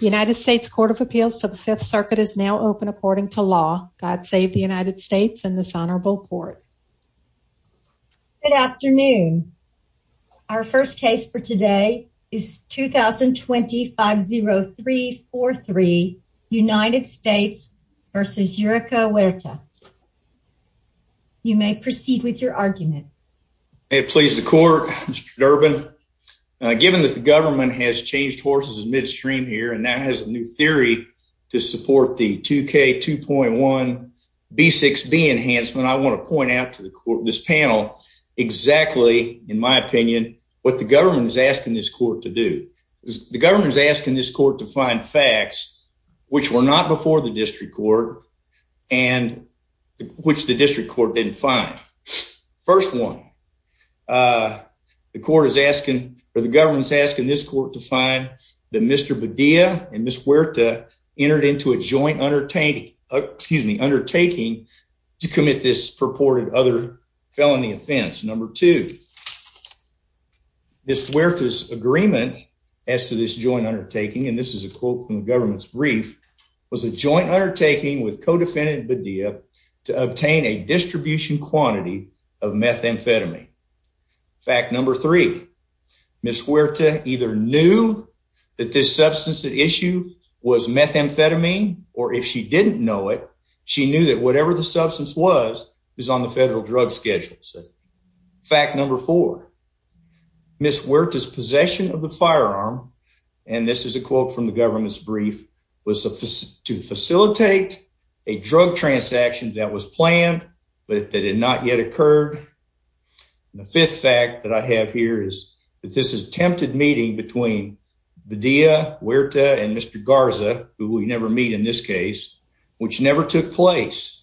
United States Court of Appeals for the Fifth Circuit is now open according to law. God save the United States and this honorable court. Good afternoon. Our first case for today is 2020-50343 United States versus Eureka Huerta. You may proceed with your argument. May it please the court. Mr. Durbin, given that the here and now has a new theory to support the two K two point one B six B enhancement. I want to point out to the court this panel exactly, in my opinion, what the government is asking this court to do. The government is asking this court to find facts which were not before the district court and which the district court didn't find. First one, uh, the court is asking for this court to find the Mr Badia and Miss Huerta entered into a joint undertaking. Excuse me. Undertaking to commit this purported other felony offense. Number two, Miss Huerta's agreement as to this joint undertaking, and this is a quote from the government's brief, was a joint undertaking with co defendant Badia to obtain a distribution quantity of methamphetamine. Fact number three, Miss Huerta either knew that this substance issue was methamphetamine, or if she didn't know it, she knew that whatever the substance was is on the federal drug schedules. Fact number four, Miss Huerta's possession of the firearm, and this is a quote from the government's brief, was to facilitate a drug transaction that was planned, but that did not yet occurred. The fifth fact that I have here is that this is tempted meeting between Badia Huerta and Mr Garza, who we never meet in this case, which never took place,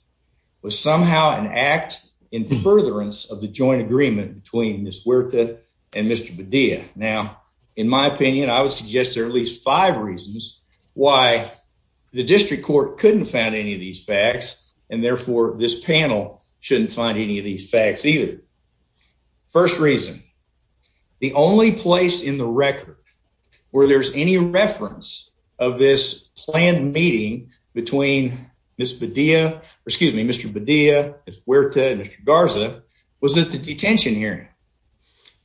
was somehow an act in furtherance of the joint agreement between this Huerta and Mr Badia. Now, in my opinion, I would suggest there at least five reasons why the district court couldn't found any of these facts, and therefore this panel shouldn't find any of these facts either. First reason the only place in the record where there's any reference of this planned meeting between Miss Badia, excuse me, Mr Badia Huerta and Mr Garza was that the detention hearing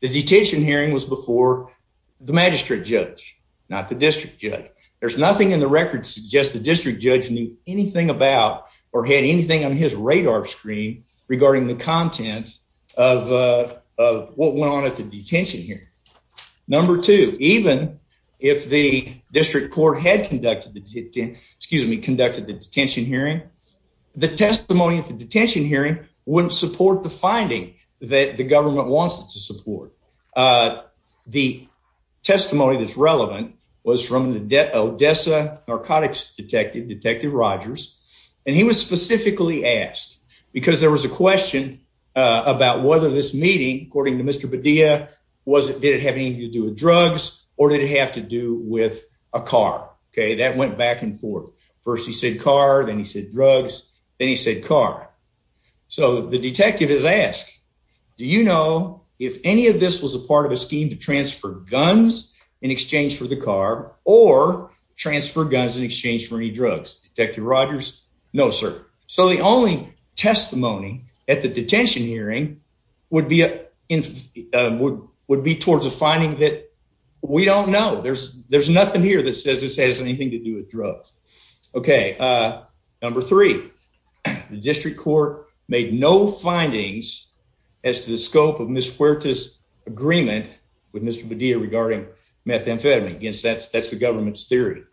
the detention hearing was before the magistrate judge, not the district judge. There's nothing in the record suggests the district judge knew anything about or had anything on his radar screen regarding the content of what went on at the detention here. Number two, even if the district court had conducted the excuse me, conducted the detention hearing, the testimony of the detention hearing wouldn't support the finding that the government wants it to support. Uh, the testimony that's relevant was from the Odessa narcotics detective, Detective Rogers, and he was specifically asked because there was a question about whether this meeting, according to Mr Badia, was it didn't have anything to do with drugs or did it have to do with a car? Okay, that went back and forth. First, he said car. Then he said drugs. Then he said car. So the detective is asked, Do you know if any of this was a part of a guns in exchange for any drugs? Detective Rogers? No, sir. So the only testimony at the detention hearing would be, uh, would would be towards a finding that we don't know. There's there's nothing here that says this has anything to do with drugs. Okay. Uh, number three, the district court made no findings as to the scope of Miss Huerta's agreement with Mr Badia regarding methamphetamine against. That's that's the government's theory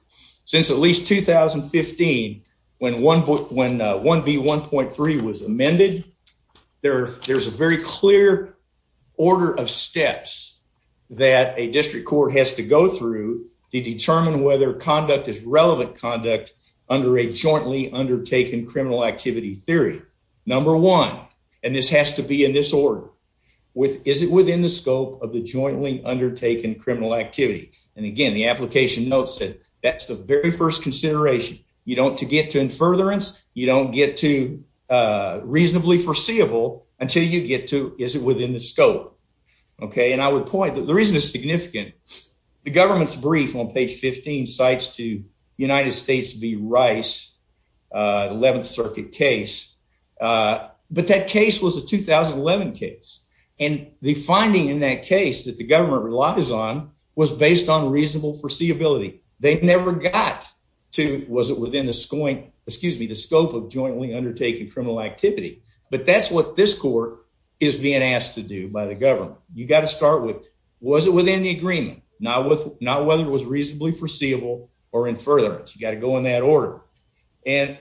since at least 2015 when one book when one B 1.3 was amended there, there's a very clear order of steps that a district court has to go through to determine whether conduct is relevant conduct under a jointly undertaken criminal activity theory. Number one, and this has to be in this order with is it within the scope of the jointly undertaken criminal activity? And again, the application notes that that's the very first consideration. You don't to get to in furtherance. You don't get to, uh, reasonably foreseeable until you get to. Is it within the scope? Okay. And I would point that the reason is significant. The government's brief on page 15 sites to United States. The Rice 11th Circuit case. Uh, but that case was a 2011 case, and the finding in that case that the government relies on was based on reasonable foreseeability. They never got to. Was it within the scoring? Excuse me, the scope of jointly undertaken criminal activity. But that's what this court is being asked to do by the government. You've got to start with. Was it within the agreement? Not with not whether it was reasonably foreseeable or in furtherance. You gotta go in that order and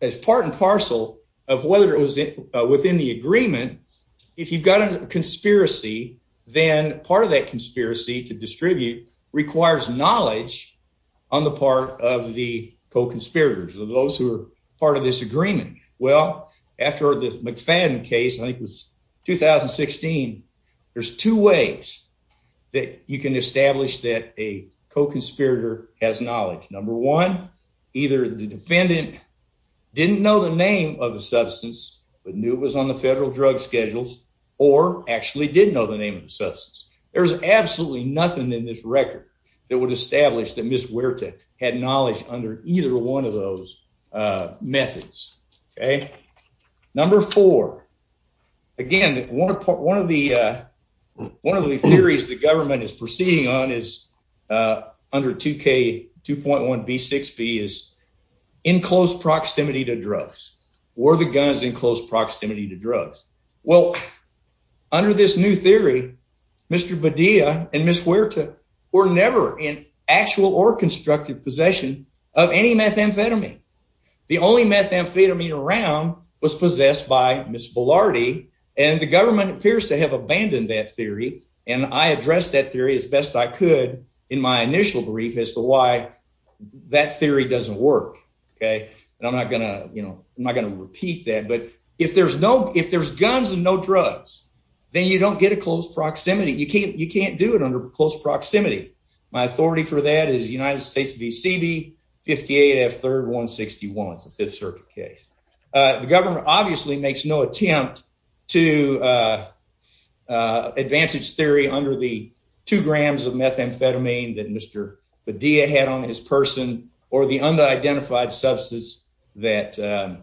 as part and parcel of whether it was within the agreement. If you've got a conspiracy, then part of that conspiracy to distribute requires knowledge on the part of the co conspirators of those who are part of this agreement. Well, after the McFadden case, I think was 2016. There's two ways that you can establish that a co conspirator has knowledge. Number one, either the defendant didn't know the name of the substance, but knew it was on the federal drug schedules or actually didn't know the name of the substance. There's absolutely nothing in this record that would establish that Miss Wirtek had knowledge under either one of those methods. Okay, number four again. One of the one of two K 2.1 B six B is in close proximity to drugs. Were the guns in close proximity to drugs? Well, under this new theory, Mr Badia and Miss Wirtek were never in actual or constructive possession of any methamphetamine. The only methamphetamine around was possessed by Miss Velarde, and the government appears to have abandoned that theory. And I addressed that theory as best I could in my initial brief as to why that theory doesn't work. Okay, and I'm not gonna, you know, I'm not gonna repeat that. But if there's no if there's guns and no drugs, then you don't get a close proximity. You can't. You can't do it under close proximity. My authority for that is United States. B. C. B. 58 F. 3rd 1 61 5th Circuit case. The government obviously makes no attempt to, uh, uh, advantage theory under the two grams of methamphetamine that Mr Badia had on his person or the under identified substance that, uh,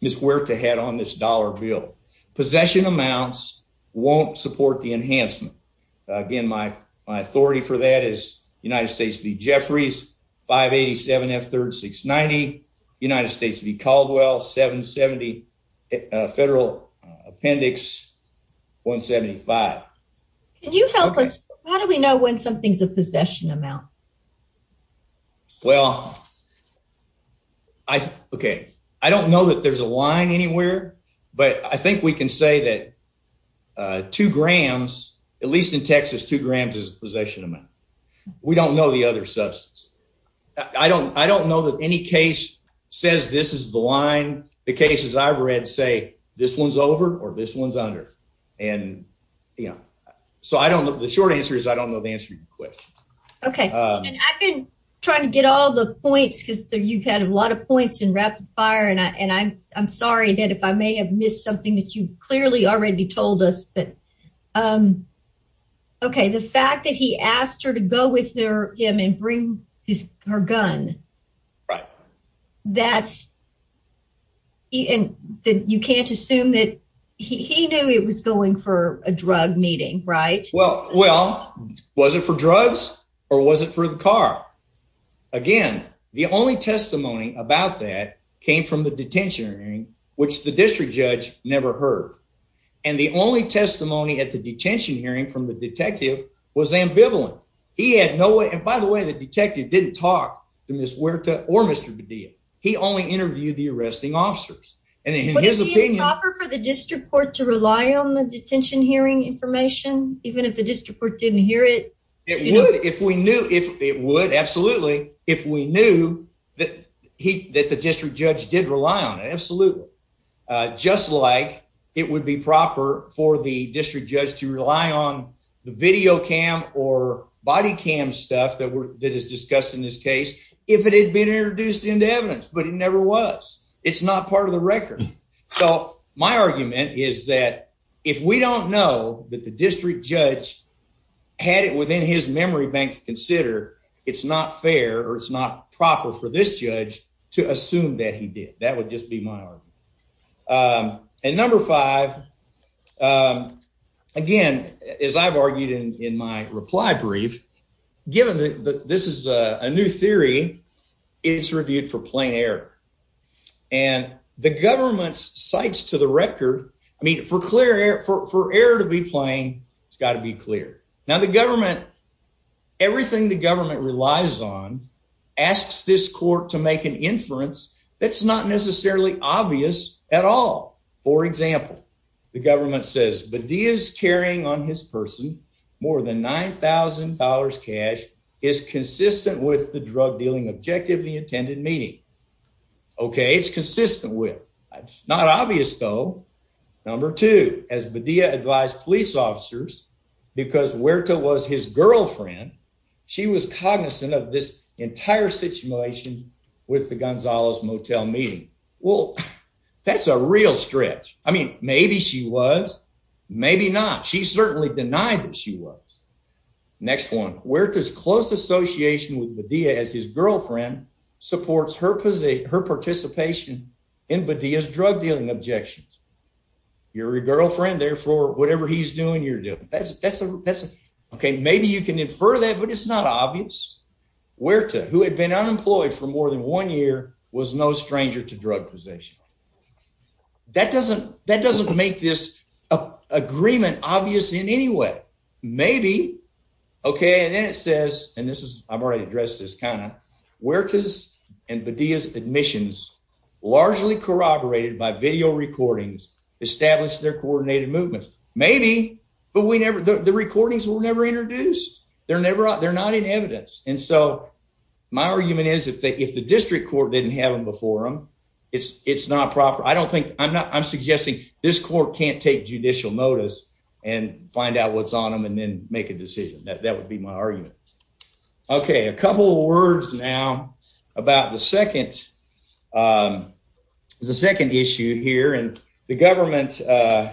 Miss Wirtek had on this dollar bill. Possession amounts won't support the enhancement again. My authority for that is United States. B. Jeffries 587 F 36 90 United States B. Caldwell 7 70 Federal Appendix 1 75. Can you help us? How do we know when something's a possession amount? Well, I okay. I don't know that there's a line anywhere, but I think we can say that two grams, at least in Texas, two grams is possession amount. We don't know the other substance. I don't. I don't know that any case says this is the line. The cases I've read say this one's over or this one's under. And, you know, so I don't know. The short answer is I don't know the answer. Okay, I've been trying to get all the points because you've had a lot of points in rapid fire, and I'm sorry that if I may have missed something that you clearly already told us. But, um, okay. The fact that he asked her to go with their him and bring his her gun, right? That's and you can't assume that he knew it was going for a drug meeting, right? Well, well, was it for drugs or was it for the car again? The only testimony about that came from the detention hearing, which the district judge never heard. And the only testimony at the detention hearing from the detective was ambivalent. He had no way. And by the way, the detective didn't talk to Miss Huerta or Mr. Bedea. He only interviewed the arresting officers and in his opinion for the district court to rely on the detention hearing information. Even if the district court didn't hear it, it would if we knew if it would. Absolutely. If we knew that he that the district judge did rely on it. Absolutely. Uh, just like it would be proper for the district judge to cam or body cam stuff that that is discussed in this case if it had been introduced into evidence, but it never was. It's not part of the record. So my argument is that if we don't know that the district judge had it within his memory bank, consider it's not fair or it's not proper for this judge to assume that he did. That would just be my argument. Um, and number five. Um, again, as I've argued in my reply brief, given that this is a new theory, it's reviewed for plain air and the government's sites to the record. I mean, for clear air for air to be playing, it's got to be clear. Now the government, everything the government relies on, asks this court to make an inference that's not necessarily obvious at all. For example, the is carrying on his person. More than $9000 cash is consistent with the drug dealing objectively intended meeting. Okay, it's consistent with. It's not obvious, though. Number two. As Medea advised police officers because where toe was his girlfriend, she was cognizant of this entire situation with the Gonzales motel meeting. Well, that's a real stretch. I mean, maybe she was. Maybe not. She certainly denied that she was. Next one. Where does close association with the Diaz? His girlfriend supports her position, her participation in but Diaz drug dealing objections. You're a girlfriend. Therefore, whatever he's doing, you're doing. That's that's that's okay. Maybe you can infer that, but it's not obvious where toe who had been unemployed for more than one year was no stranger to drug possession. Okay, that doesn't that doesn't make this agreement obvious in any way. Maybe. Okay. And then it says, and this is I've already addressed this kind of where toes and the Diaz admissions largely corroborated by video recordings established their coordinated movements. Maybe, but we never the recordings were never introduced. They're never out. They're not in evidence. And so my argument is, if the district court didn't have him for him, it's it's not proper. I don't think I'm not. I'm suggesting this court can't take judicial notice and find out what's on them and then make a decision that that would be my argument. Okay, a couple of words now about the second. Um, the second issue here, and the government, uh,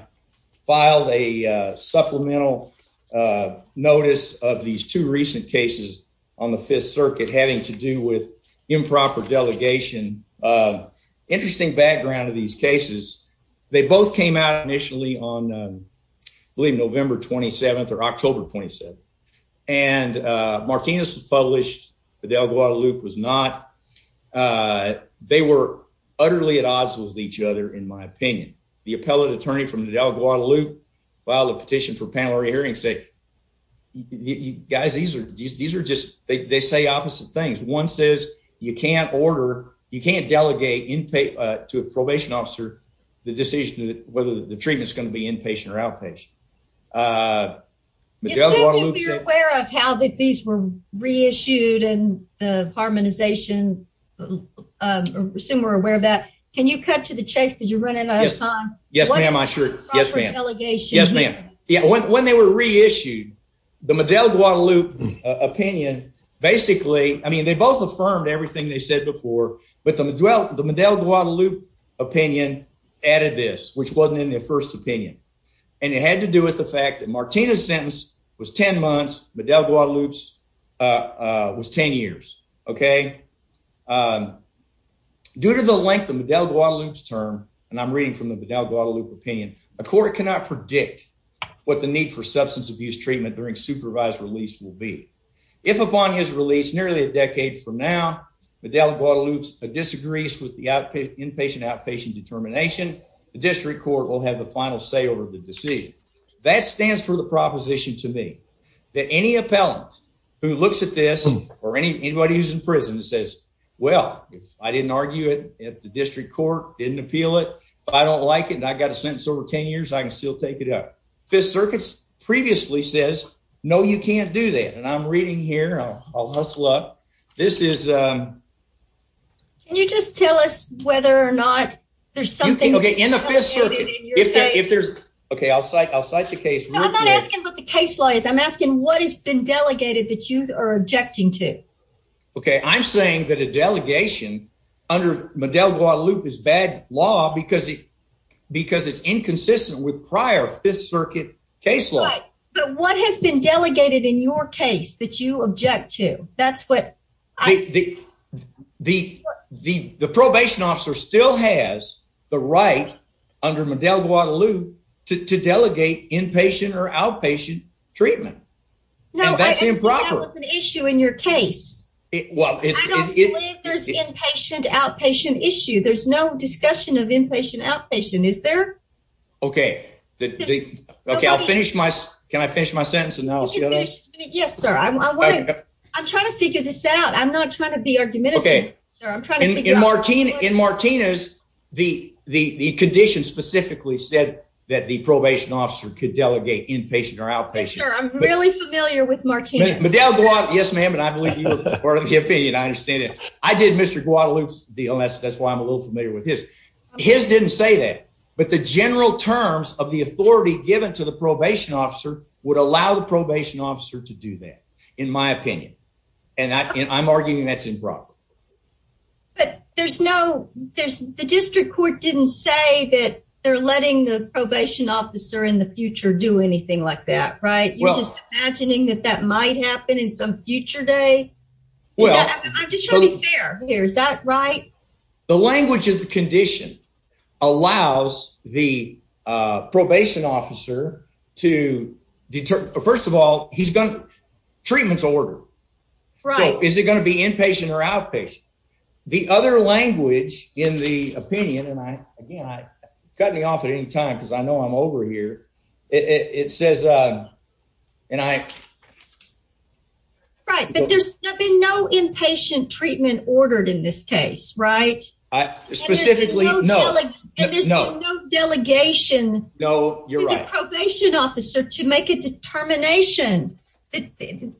filed a supplemental, uh, notice of these two recent cases on the Fifth Circuit having to do with improper delegation. Uh, interesting background of these cases. They both came out initially on, um, believe November 27th or October 27th. And, uh, Martinez was published. The Del Guadalupe was not. Uh, they were utterly at odds with each other. In my opinion, the appellate attorney from the Del Guadalupe while the petition for panel re hearing say, you guys, these are these are just they say opposite things. One says you can't order. You can't delegate in pay to a probation officer the decision whether the treatment is going to be inpatient or outpatient. Uh, you're aware of how that these were re issued and harmonization. Um, assume we're aware of that. Can you cut to the chase because you're running out of time? Yes, when they were re issued the Medellin Guadalupe opinion, basically, I mean, they both affirmed everything they said before, but the dwell the Medellin Guadalupe opinion added this, which wasn't in their first opinion, and it had to do with the fact that Martinez sentence was 10 months. Medellin Guadalupe's, uh, was 10 years. Okay. Um, due to the length of Del Guadalupe's term, and I'm reading from the Del Guadalupe opinion, a court cannot predict what the need for substance abuse treatment during supervised release will be. If upon his release nearly a decade from now, Medellin Guadalupe's disagrees with the outpatient inpatient outpatient determination, the district court will have the final say over the decision. That stands for the proposition to me that any appellant who looks at this or any anybody who's in prison and says, Well, if I didn't argue it at the district court didn't appeal it, but I don't like it, and I got a sentence over 10 years, I can still take it up. Fifth Circuit's previously says, No, you can't do that. And I'm reading here. I'll hustle up. This is, um, can you just tell us whether or not there's something okay in the fifth circuit? If there's okay, I'll cite. I'll cite the case. I'm not asking what the case law is. I'm asking what has been delegated that you are objecting to. Okay. I'm saying that a delegation under Medellin Guadalupe is bad law because because it's inconsistent with prior Fifth Circuit caseload. But what has been delegated in your case that you object to? That's what I think. The probation officer still has the right under Medellin Guadalupe to delegate inpatient or outpatient treatment. No, that's improper issue in your case. Well, there's inpatient outpatient issue. There's no discussion of inpatient outpatient. Is there? Okay. Okay, I'll finish my Can I finish my sentence? And now? Yes, sir. I'm trying to figure this out. I'm not trying to be argumentative. In Martinez, the condition specifically said that the probation officer could delegate inpatient or outpatient. I'm really familiar with Martinez. Yes, ma'am. And I believe you were part of the opinion. I understand it. I did Mr Guadalupe's deal. That's why I'm a his didn't say that. But the general terms of the authority given to the probation officer would allow the probation officer to do that, in my opinion. And I'm arguing that's improper. But there's no there's the district court didn't say that they're letting the probation officer in the future do anything like that, right? You're just imagining that that might happen in some future day. I'm just trying to be is that right? The language of the condition allows the probation officer to deter. First of all, he's gonna treatments order. Right. Is it gonna be inpatient or outpatient? The other language in the opinion and I again, I cut me off at any time because I know I'm over here. It says, uh, and I right. But there's been no inpatient treatment ordered in this case, right? Specifically, no, no delegation. No, you're right. Probation officer to make a determination in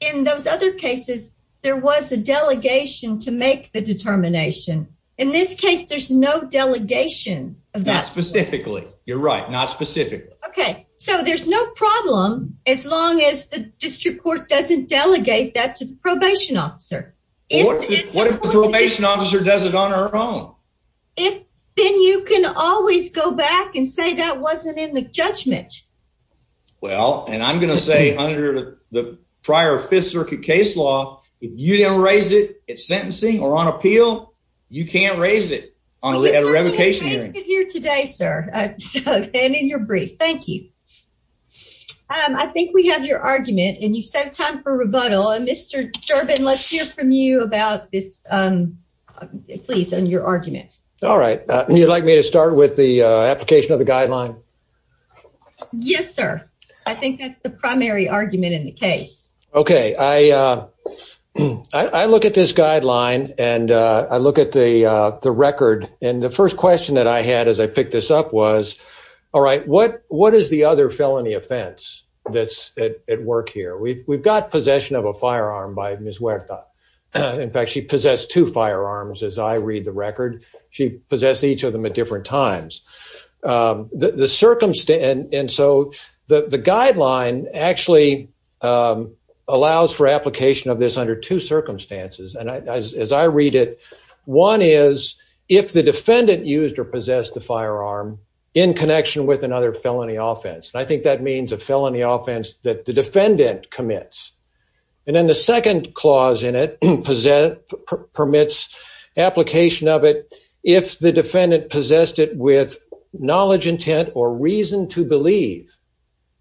in those other cases, there was a delegation to make the determination. In this case, there's no delegation of that specifically. You're right. Not specific. Okay, so there's no problem as long as the district court doesn't delegate that to the probation officer. What if the probation officer does it on her own? If then you can always go back and say that wasn't in the judgment. Well, and I'm gonna say under the prior Fifth Circuit case law, if you don't raise it, it's sentencing or on appeal. You can't raise it on a revocation hearing here today, sir. And in your brief. Thank you. Um, I think we have your argument and you set time for rebuttal. And Mr Durbin, let's hear from you about this. Um, please. And your argument. All right. You'd like me to start with the application of the guideline? Yes, sir. I think that's the primary argument in the case. Okay, I, uh, I read the record, and the first question that I had as I picked this up was all right. What? What is the other felony offense that's at work here? We've got possession of a firearm by Miss Wertha. In fact, she possessed two firearms. As I read the record, she possessed each of them at different times. Um, the circumstance. And so the guideline actually, um, allows for application of this under two circumstances. And as I read it, one is if the defendant used or possessed the firearm in connection with another felony offense. I think that means a felony offense that the defendant commits. And then the second clause in it possess permits application of it. If the defendant possessed it with knowledge, intent or reason to believe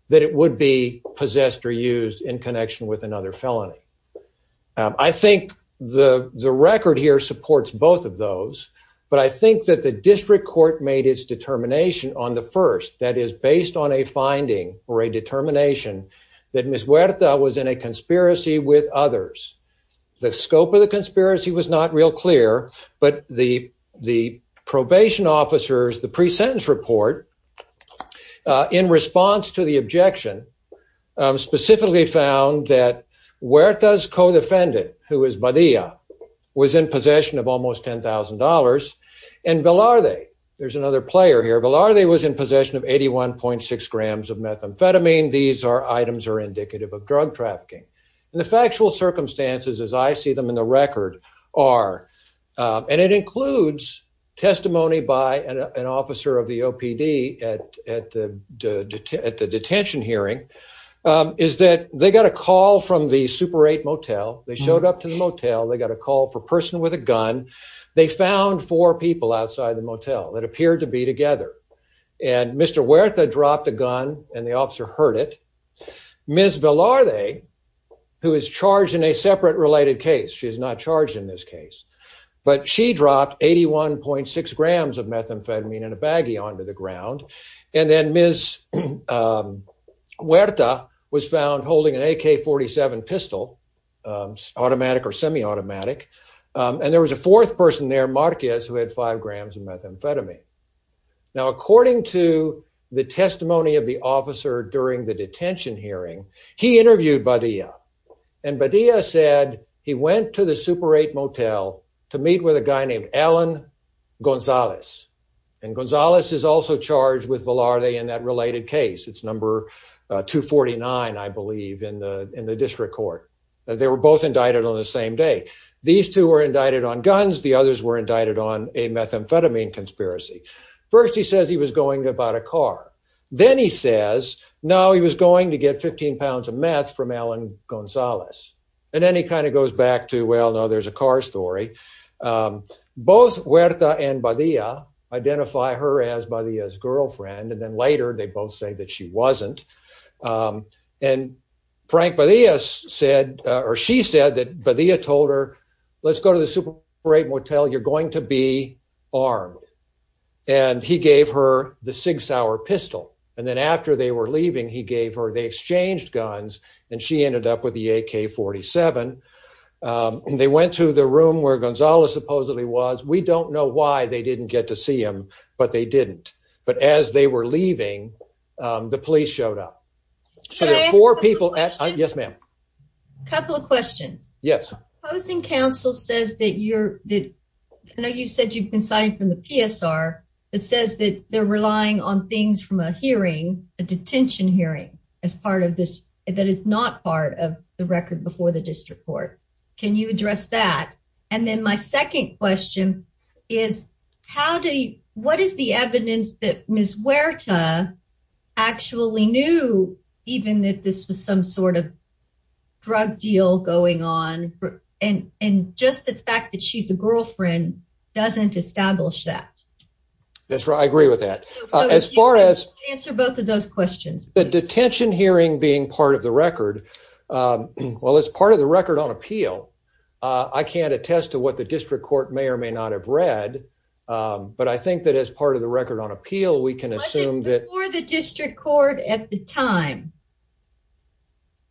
that it would be possessed or used in connection with another felony. I think the record here supports both of those. But I think that the district court made its determination on the first that is based on a finding or a determination that Miss Wertha was in a conspiracy with others. The scope of the conspiracy was not real clear. But the probation officers, the pre sentence report in response to the found that where it does co defendant who is by the was in possession of almost $10,000. And Bill, are they? There's another player here. But are they was in possession of 81.6 grams of methamphetamine. These are items are indicative of drug trafficking. The factual circumstances as I see them in the record are, and it includes testimony by an officer of the O. P. D. At at the at the detention hearing is that they got a call from the Super Eight Motel. They showed up to the motel. They got a call for person with a gun. They found four people outside the motel that appeared to be together. And Mr Wertha dropped a gun and the officer heard it. Ms Villar they who is charged in a separate related case. She is not charged in this case, but she And then Ms, um, where the was found holding an AK 47 pistol, um, automatic or semi automatic. And there was a fourth person there, Marquez, who had five grams of methamphetamine. Now, according to the testimony of the officer during the detention hearing, he interviewed by the and Badia said he went to the Super Eight Motel to meet with a guy named Alan Gonzalez. And Villar they in that related case. It's number 2 49. I believe in the in the district court that they were both indicted on the same day. These two were indicted on guns. The others were indicted on a methamphetamine conspiracy. First, he says he was going about a car. Then he says now he was going to get £15 of meth from Alan Gonzalez. And then he kind of goes back to Well, no, there's a car story. Um, both Wertha and Badia identify her as Badia's girlfriend. And then later, they both say that she wasn't. Um, and Frank, but he has said, or she said that, but he had told her, Let's go to the Super Great Motel. You're going to be armed. And he gave her the six hour pistol. And then after they were leaving, he gave her they exchanged guns, and she ended up with the AK 47. Um, they went to the room where Gonzalez supposedly was. We don't know why they didn't get to see him, but they didn't. But as they were leaving, the police showed up. So there's four people. Yes, ma'am. Couple of questions. Yes. Posting Council says that you're that you said you've been signed from the PSR. It says that they're relying on things from a hearing a detention hearing as part of this. That is not part of the record before the district court. Can you address that? And then my second question is, how do you What is the evidence that Ms Werta actually knew even that this was some sort of drug deal going on? And just the fact that she's a girlfriend doesn't establish that. That's right. I agree with that. As far as answer both of those questions, the detention hearing being part of the record. Um, well, it's part of the record on appeal. I can't test to what the district court may or may not have read. Um, but I think that as part of the record on appeal, we can assume that the district court at the time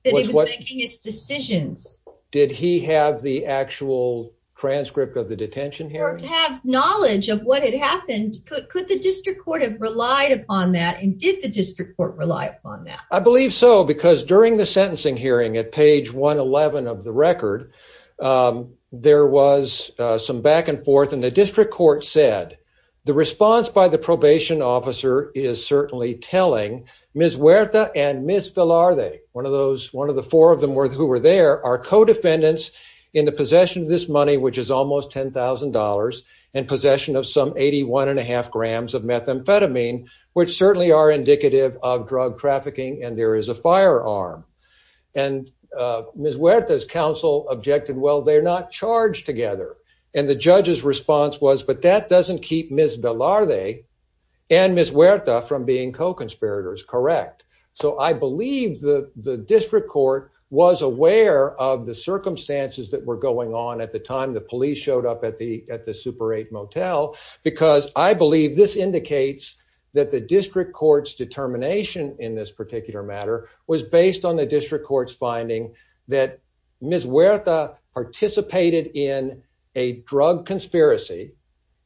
that he was making its decisions. Did he have the actual transcript of the detention here? Have knowledge of what had happened. Could the district court have relied upon that? And did the district court rely upon that? I believe so, because during the sentencing hearing at page 1 11 of the record, um, there was some back and forth, and the district court said the response by the probation officer is certainly telling Ms Werta and Miss Villar. They one of those one of the four of them worth who were there are co defendants in the possession of this money, which is almost $10,000 and possession of some 81.5 grams of methamphetamine, which certainly are indicative of drug trafficking. And there is a firearm. And, uh, Miss Weta's counsel objected. Well, they're not charged together. And the judge's response was, But that doesn't keep Miss Villar. They and Miss Weta from being co conspirators. Correct. So I believe the district court was aware of the circumstances that were going on at the time the police showed up at the at the Super eight motel, because I believe this indicates that the district court's determination in this particular matter was based on the district court's that Miss Weta participated in a drug conspiracy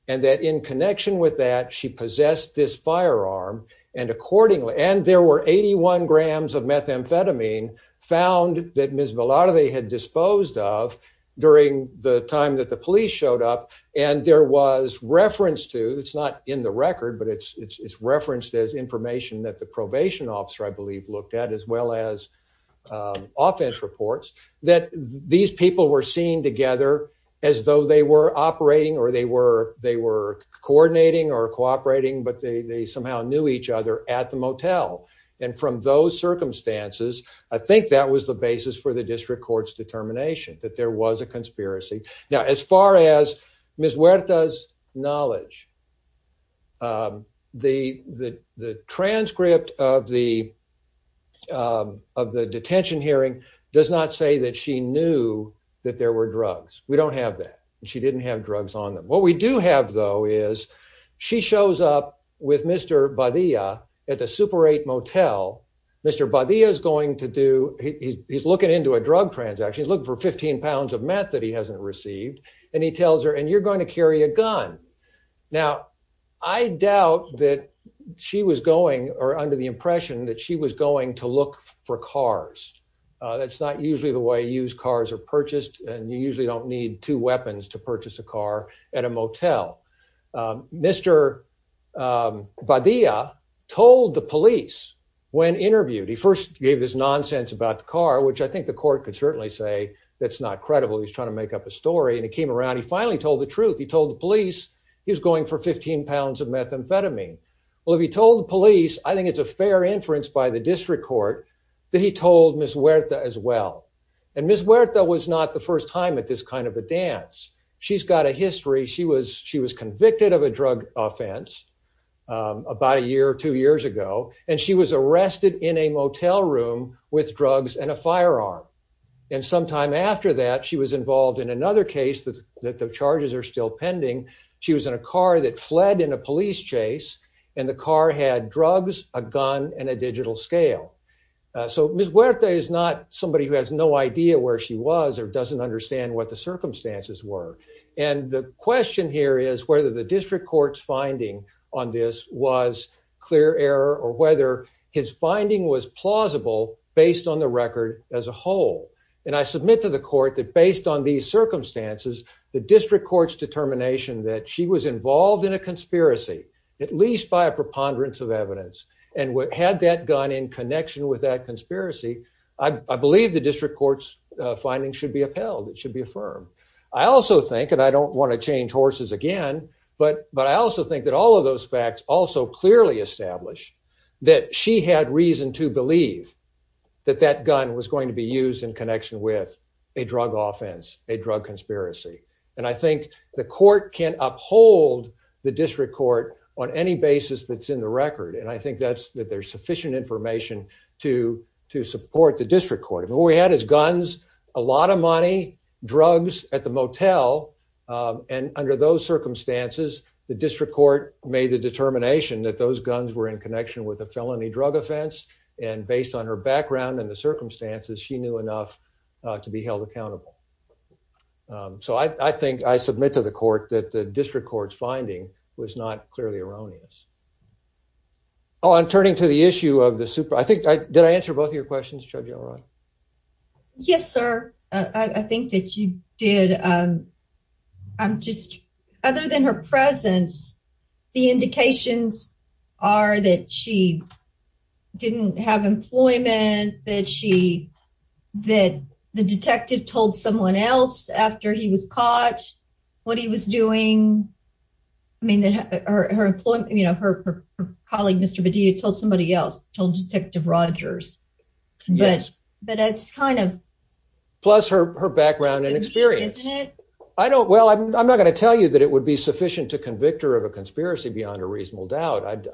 and that in connection with that she possessed this firearm and accordingly and there were 81 grams of methamphetamine found that Miss Villar they had disposed off during the time that the police showed up. And there was reference to it's not in the record, but it's referenced as information that the probation officer, I believe, looked at as well as, um, offense reports that these people were seen together as though they were operating or they were. They were coordinating or cooperating, but they somehow knew each other at the motel. And from those circumstances, I think that was the basis for the district court's determination that there was a conspiracy. Now, as far as Miss Weta's knowledge, um, the the transcript of the, um, of the detention hearing does not say that she knew that there were drugs. We don't have that. She didn't have drugs on them. What we do have, though, is she shows up with Mr Badia at the Super eight motel. Mr Badia is going to do. He's looking into a drug transaction. Look for £15 of meth that he hasn't received, and he tells her and you're going to carry a gun. Now, I doubt that she was going or under the impression that she was going to look for cars. That's not usually the way used cars are purchased, and you usually don't need two weapons to purchase a car at a motel. Mr Badia told the police when interviewed. He first gave this nonsense about the car, which I think the court could certainly say that's not credible. He's trying to make up a story, and it came the truth. He told the police he was going for £15 of methamphetamine. Well, if he told the police, I think it's a fair inference by the district court that he told Miss Weta as well. And Miss Weta was not the first time at this kind of a dance. She's got a history. She was. She was convicted of a drug offense about a year or two years ago, and she was arrested in a motel room with drugs and a firearm. And sometime after that, she was involved in another case that the charges are still pending. She was in a car that fled in a police chase, and the car had drugs, a gun and a digital scale. So Miss Weta is not somebody who has no idea where she was or doesn't understand what the circumstances were. And the question here is whether the district court's finding on this was clear error or whether his finding was plausible based on the record as a whole. And I submit to the court that based on these circumstances, the district court's determination that she was involved in a conspiracy, at least by a preponderance of evidence and what had that gun in connection with that conspiracy. I believe the district court's findings should be upheld. It should be affirmed. I also think and I don't want to change horses again, but but I also think that all of those facts also clearly established that she had reason to believe that that gun was a drug conspiracy. And I think the court can uphold the district court on any basis that's in the record. And I think that's that there's sufficient information to to support the district court. What we had is guns, a lot of money, drugs at the motel. Um, and under those circumstances, the district court made the determination that those guns were in connection with a felony drug offense. And based on her background and the circumstances, she knew enough to be held accountable. So I think I submit to the court that the district court's finding was not clearly erroneous. Oh, I'm turning to the issue of the super. I think I did. I answer both of your questions. Judge. You're right. Yes, sir. I think that you did. Um, I'm just other than her presence, the that the detective told someone else after he was caught what he was doing. I mean, her employee, you know, her colleague, Mr. But do you told somebody else told Detective Rogers? But but it's kind of plus her her background and experience. I don't. Well, I'm not gonna tell you that it would be sufficient to convict her of a conspiracy beyond a reasonable doubt.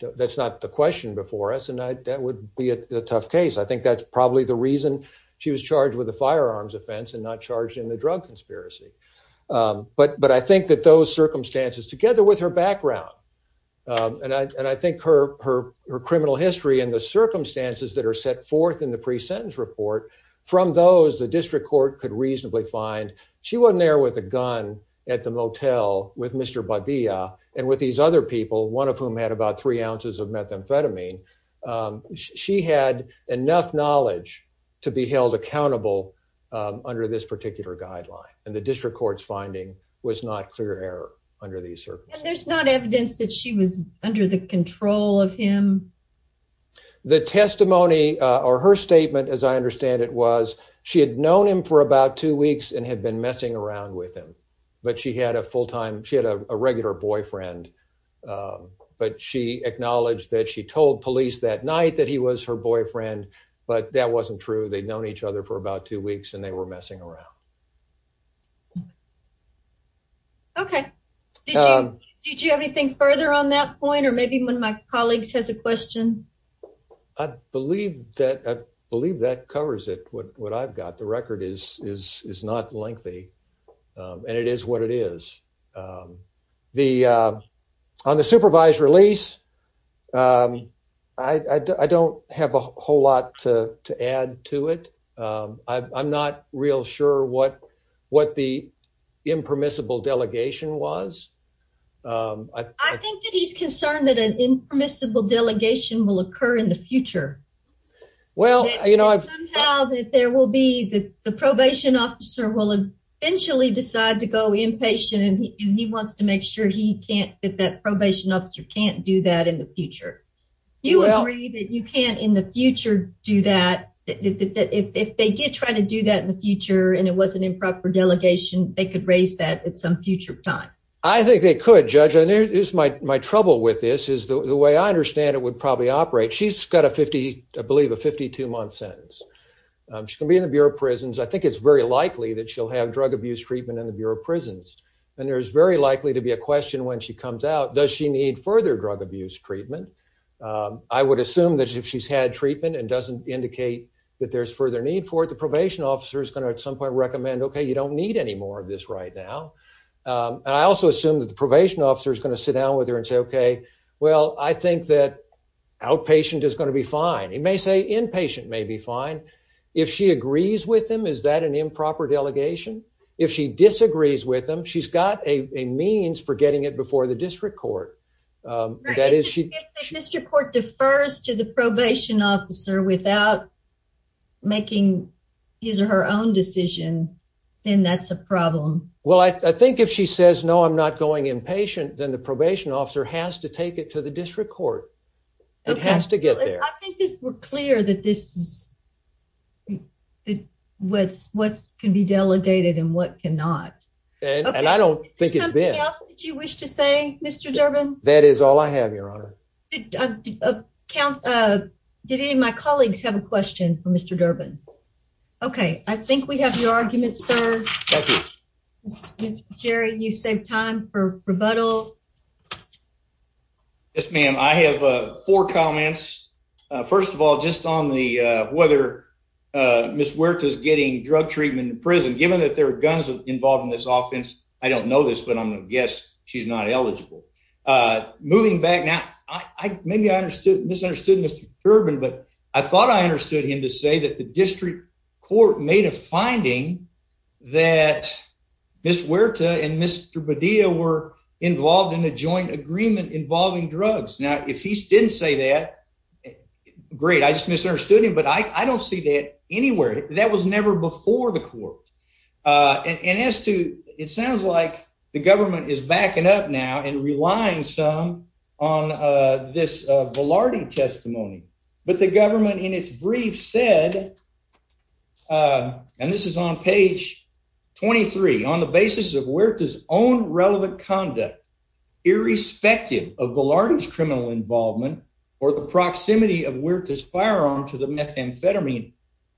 That's not the question before us, and that would be a tough case. I think that's probably the reason she was charged with a firearms offense and not charged in the drug conspiracy. But but I think that those circumstances together with her background on I think her her her criminal history and the circumstances that are set forth in the pre sentence report from those the district court could reasonably find. She wasn't there with a gun at the motel with Mr Badia and with these other people, one of whom had about three ounces of to be held accountable under this particular guideline. And the district court's finding was not clear air under the surface. There's not evidence that she was under the control of him. The testimony or her statement, as I understand it, was she had known him for about two weeks and had been messing around with him. But she had a full time. She had a regular boyfriend, but she acknowledged that she told police that night that he was her boyfriend. But that wasn't true. They'd known each other for about two weeks, and they were messing around. Okay, did you have anything further on that point? Or maybe when my colleagues has a question, I believe that I believe that covers it. What I've got the record is is not lengthy, and it is what it is. Um, the on the supervised release. Um, I don't have a whole lot to add to it. Um, I'm not real sure what what the impermissible delegation was. Um, I think that he's concerned that an impermissible delegation will occur in the future. Well, you know, I've found that there will be that the probation officer will eventually decide to go inpatient, and he wants to make sure he can't get that probation officer can't do that in the future. You agree that you can't in the future do that. If they did try to do that in the future, and it was an improper delegation, they could raise that at some future time. I think they could, Judge. And there is my trouble with this is the way I understand it would probably operate. She's got a 50 believe a 52 month sentence. She can be in the Bureau of Prisons. I think it's very likely that she'll have drug abuse treatment in the Bureau of Prisons, and there's very likely to be a question when she comes out. Does she need further drug abuse treatment? I would assume that if she's had treatment and doesn't indicate that there's further need for it, the probation officer is gonna at some point recommend. Okay, you don't need any more of this right now. Um, I also assume that the probation officer is gonna sit down with her and say, Okay, well, I think that outpatient is gonna be fine. It may say inpatient may be fine if she agrees with him. Is that an improper delegation? If she disagrees with him, she's got a means for getting it before the district court. Um, that is she district court defers to the probation officer without making his or her own decision. Then that's a problem. Well, I think if she says no, I'm not going inpatient. Then the probation officer has to take it to the district court. It has to get there. I think it's clear that this is what's what can be delegated and what cannot. And I don't think it's something else that you wish to say, Mr Durbin. That is all I have, Your Honor. Count. Uh, did any of my colleagues have a question for Mr Durbin? Okay, I think we have your argument, sir. Thank you, Jerry. You save time for rebuttal. Yes, ma'am. I have four comments. First of all, just on the whether, uh, Miss Werther's getting drug treatment in prison, given that there are guns involved in this offense. I don't know this, but I'm gonna guess she's not eligible. Uh, moving back now. I maybe I understood misunderstood Mr Urban, but I thought I understood him to say that the district court made a finding that Miss Werther and Mr Badia were involved in a joint agreement involving drugs. Now, if he didn't say that great, I just misunderstood him. But I don't see that anywhere. That was never before the court. Uh, and as to it sounds like the government is backing up now and relying some on this Velarde testimony. But the government in its brief said, uh, and this is on page 23 on the basis of where it is own relevant conduct, irrespective of the largest criminal involvement or the proximity of where it is firearm to the methamphetamine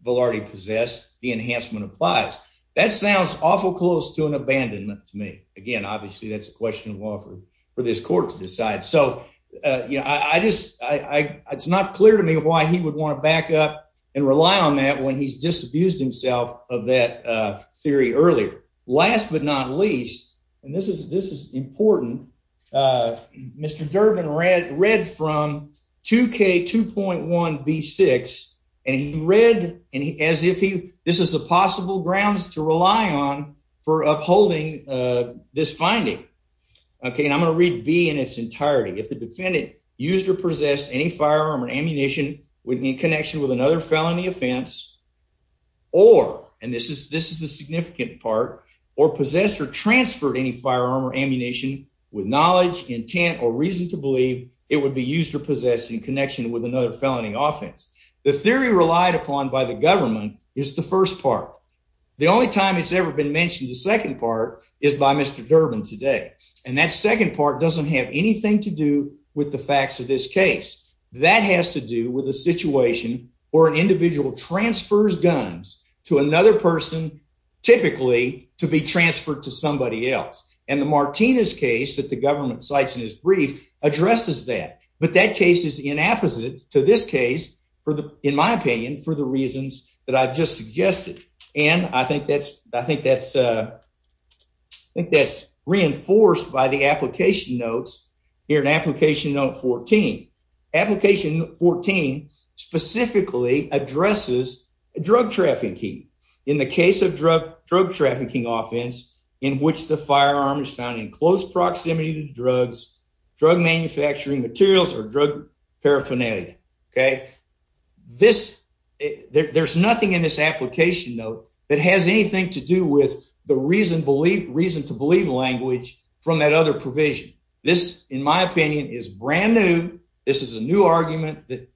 Velarde possessed. The enhancement applies. That sounds awful close to an abandonment to me again. Obviously, that's a question of offer for this court to decide. So, uh, you know, I just I it's not clear to me why he would want to back up and rely on that when he's just abused himself of that theory earlier. Last but not least, and this is this is important. Uh, Mr Durbin read read from two K 2.1 B six and he read and as if he this is a possible grounds to rely on for upholding this finding. Okay, and I'm gonna read be in its entirety. If the defendant used or possessed any firearm or ammunition would be in connection with another felony offense or and this is this is a significant part or possessed or transferred any firearm or ammunition with knowledge, intent or reason to believe it would be used or possessed in connection with another felony offense. The theory relied upon by the government is the first part. The only time it's ever been mentioned. The second part is by Mr Durbin today, and that second part doesn't have anything to do with the facts of this case. That has to do with the situation or an individual transfers guns to another person, typically to be transferred to somebody else. And the Martinez case that the government sites in his brief addresses that. But that case is in opposite to this case for the in my opinion, for the reasons that I've just suggested. And I think that's I think that's, uh, I think that's reinforced by the application notes here. An application note 14 application 14 specifically addresses drug trafficking in the case of drug drug trafficking offense in which the firearm is found in close proximity to drugs, drug manufacturing materials or drug paraphernalia. Okay, this there's nothing in this application note that has anything to do with the reason believe reason to believe language from that other provision. This, in my opinion, is brand new. This is a new argument that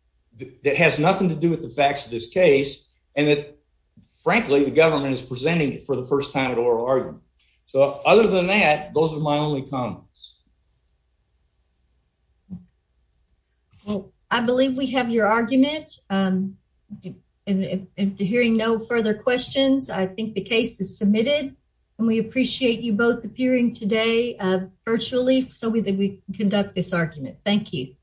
that has nothing to do with the facts of this case, and that, frankly, the government is presenting it for the first time at oral argument. So other than that, those are my only comments. Well, I believe we have your argument. Um, and hearing no further questions, I think the case is submitted, and we appreciate you both appearing today virtually. So we that we conduct this argument. Thank you.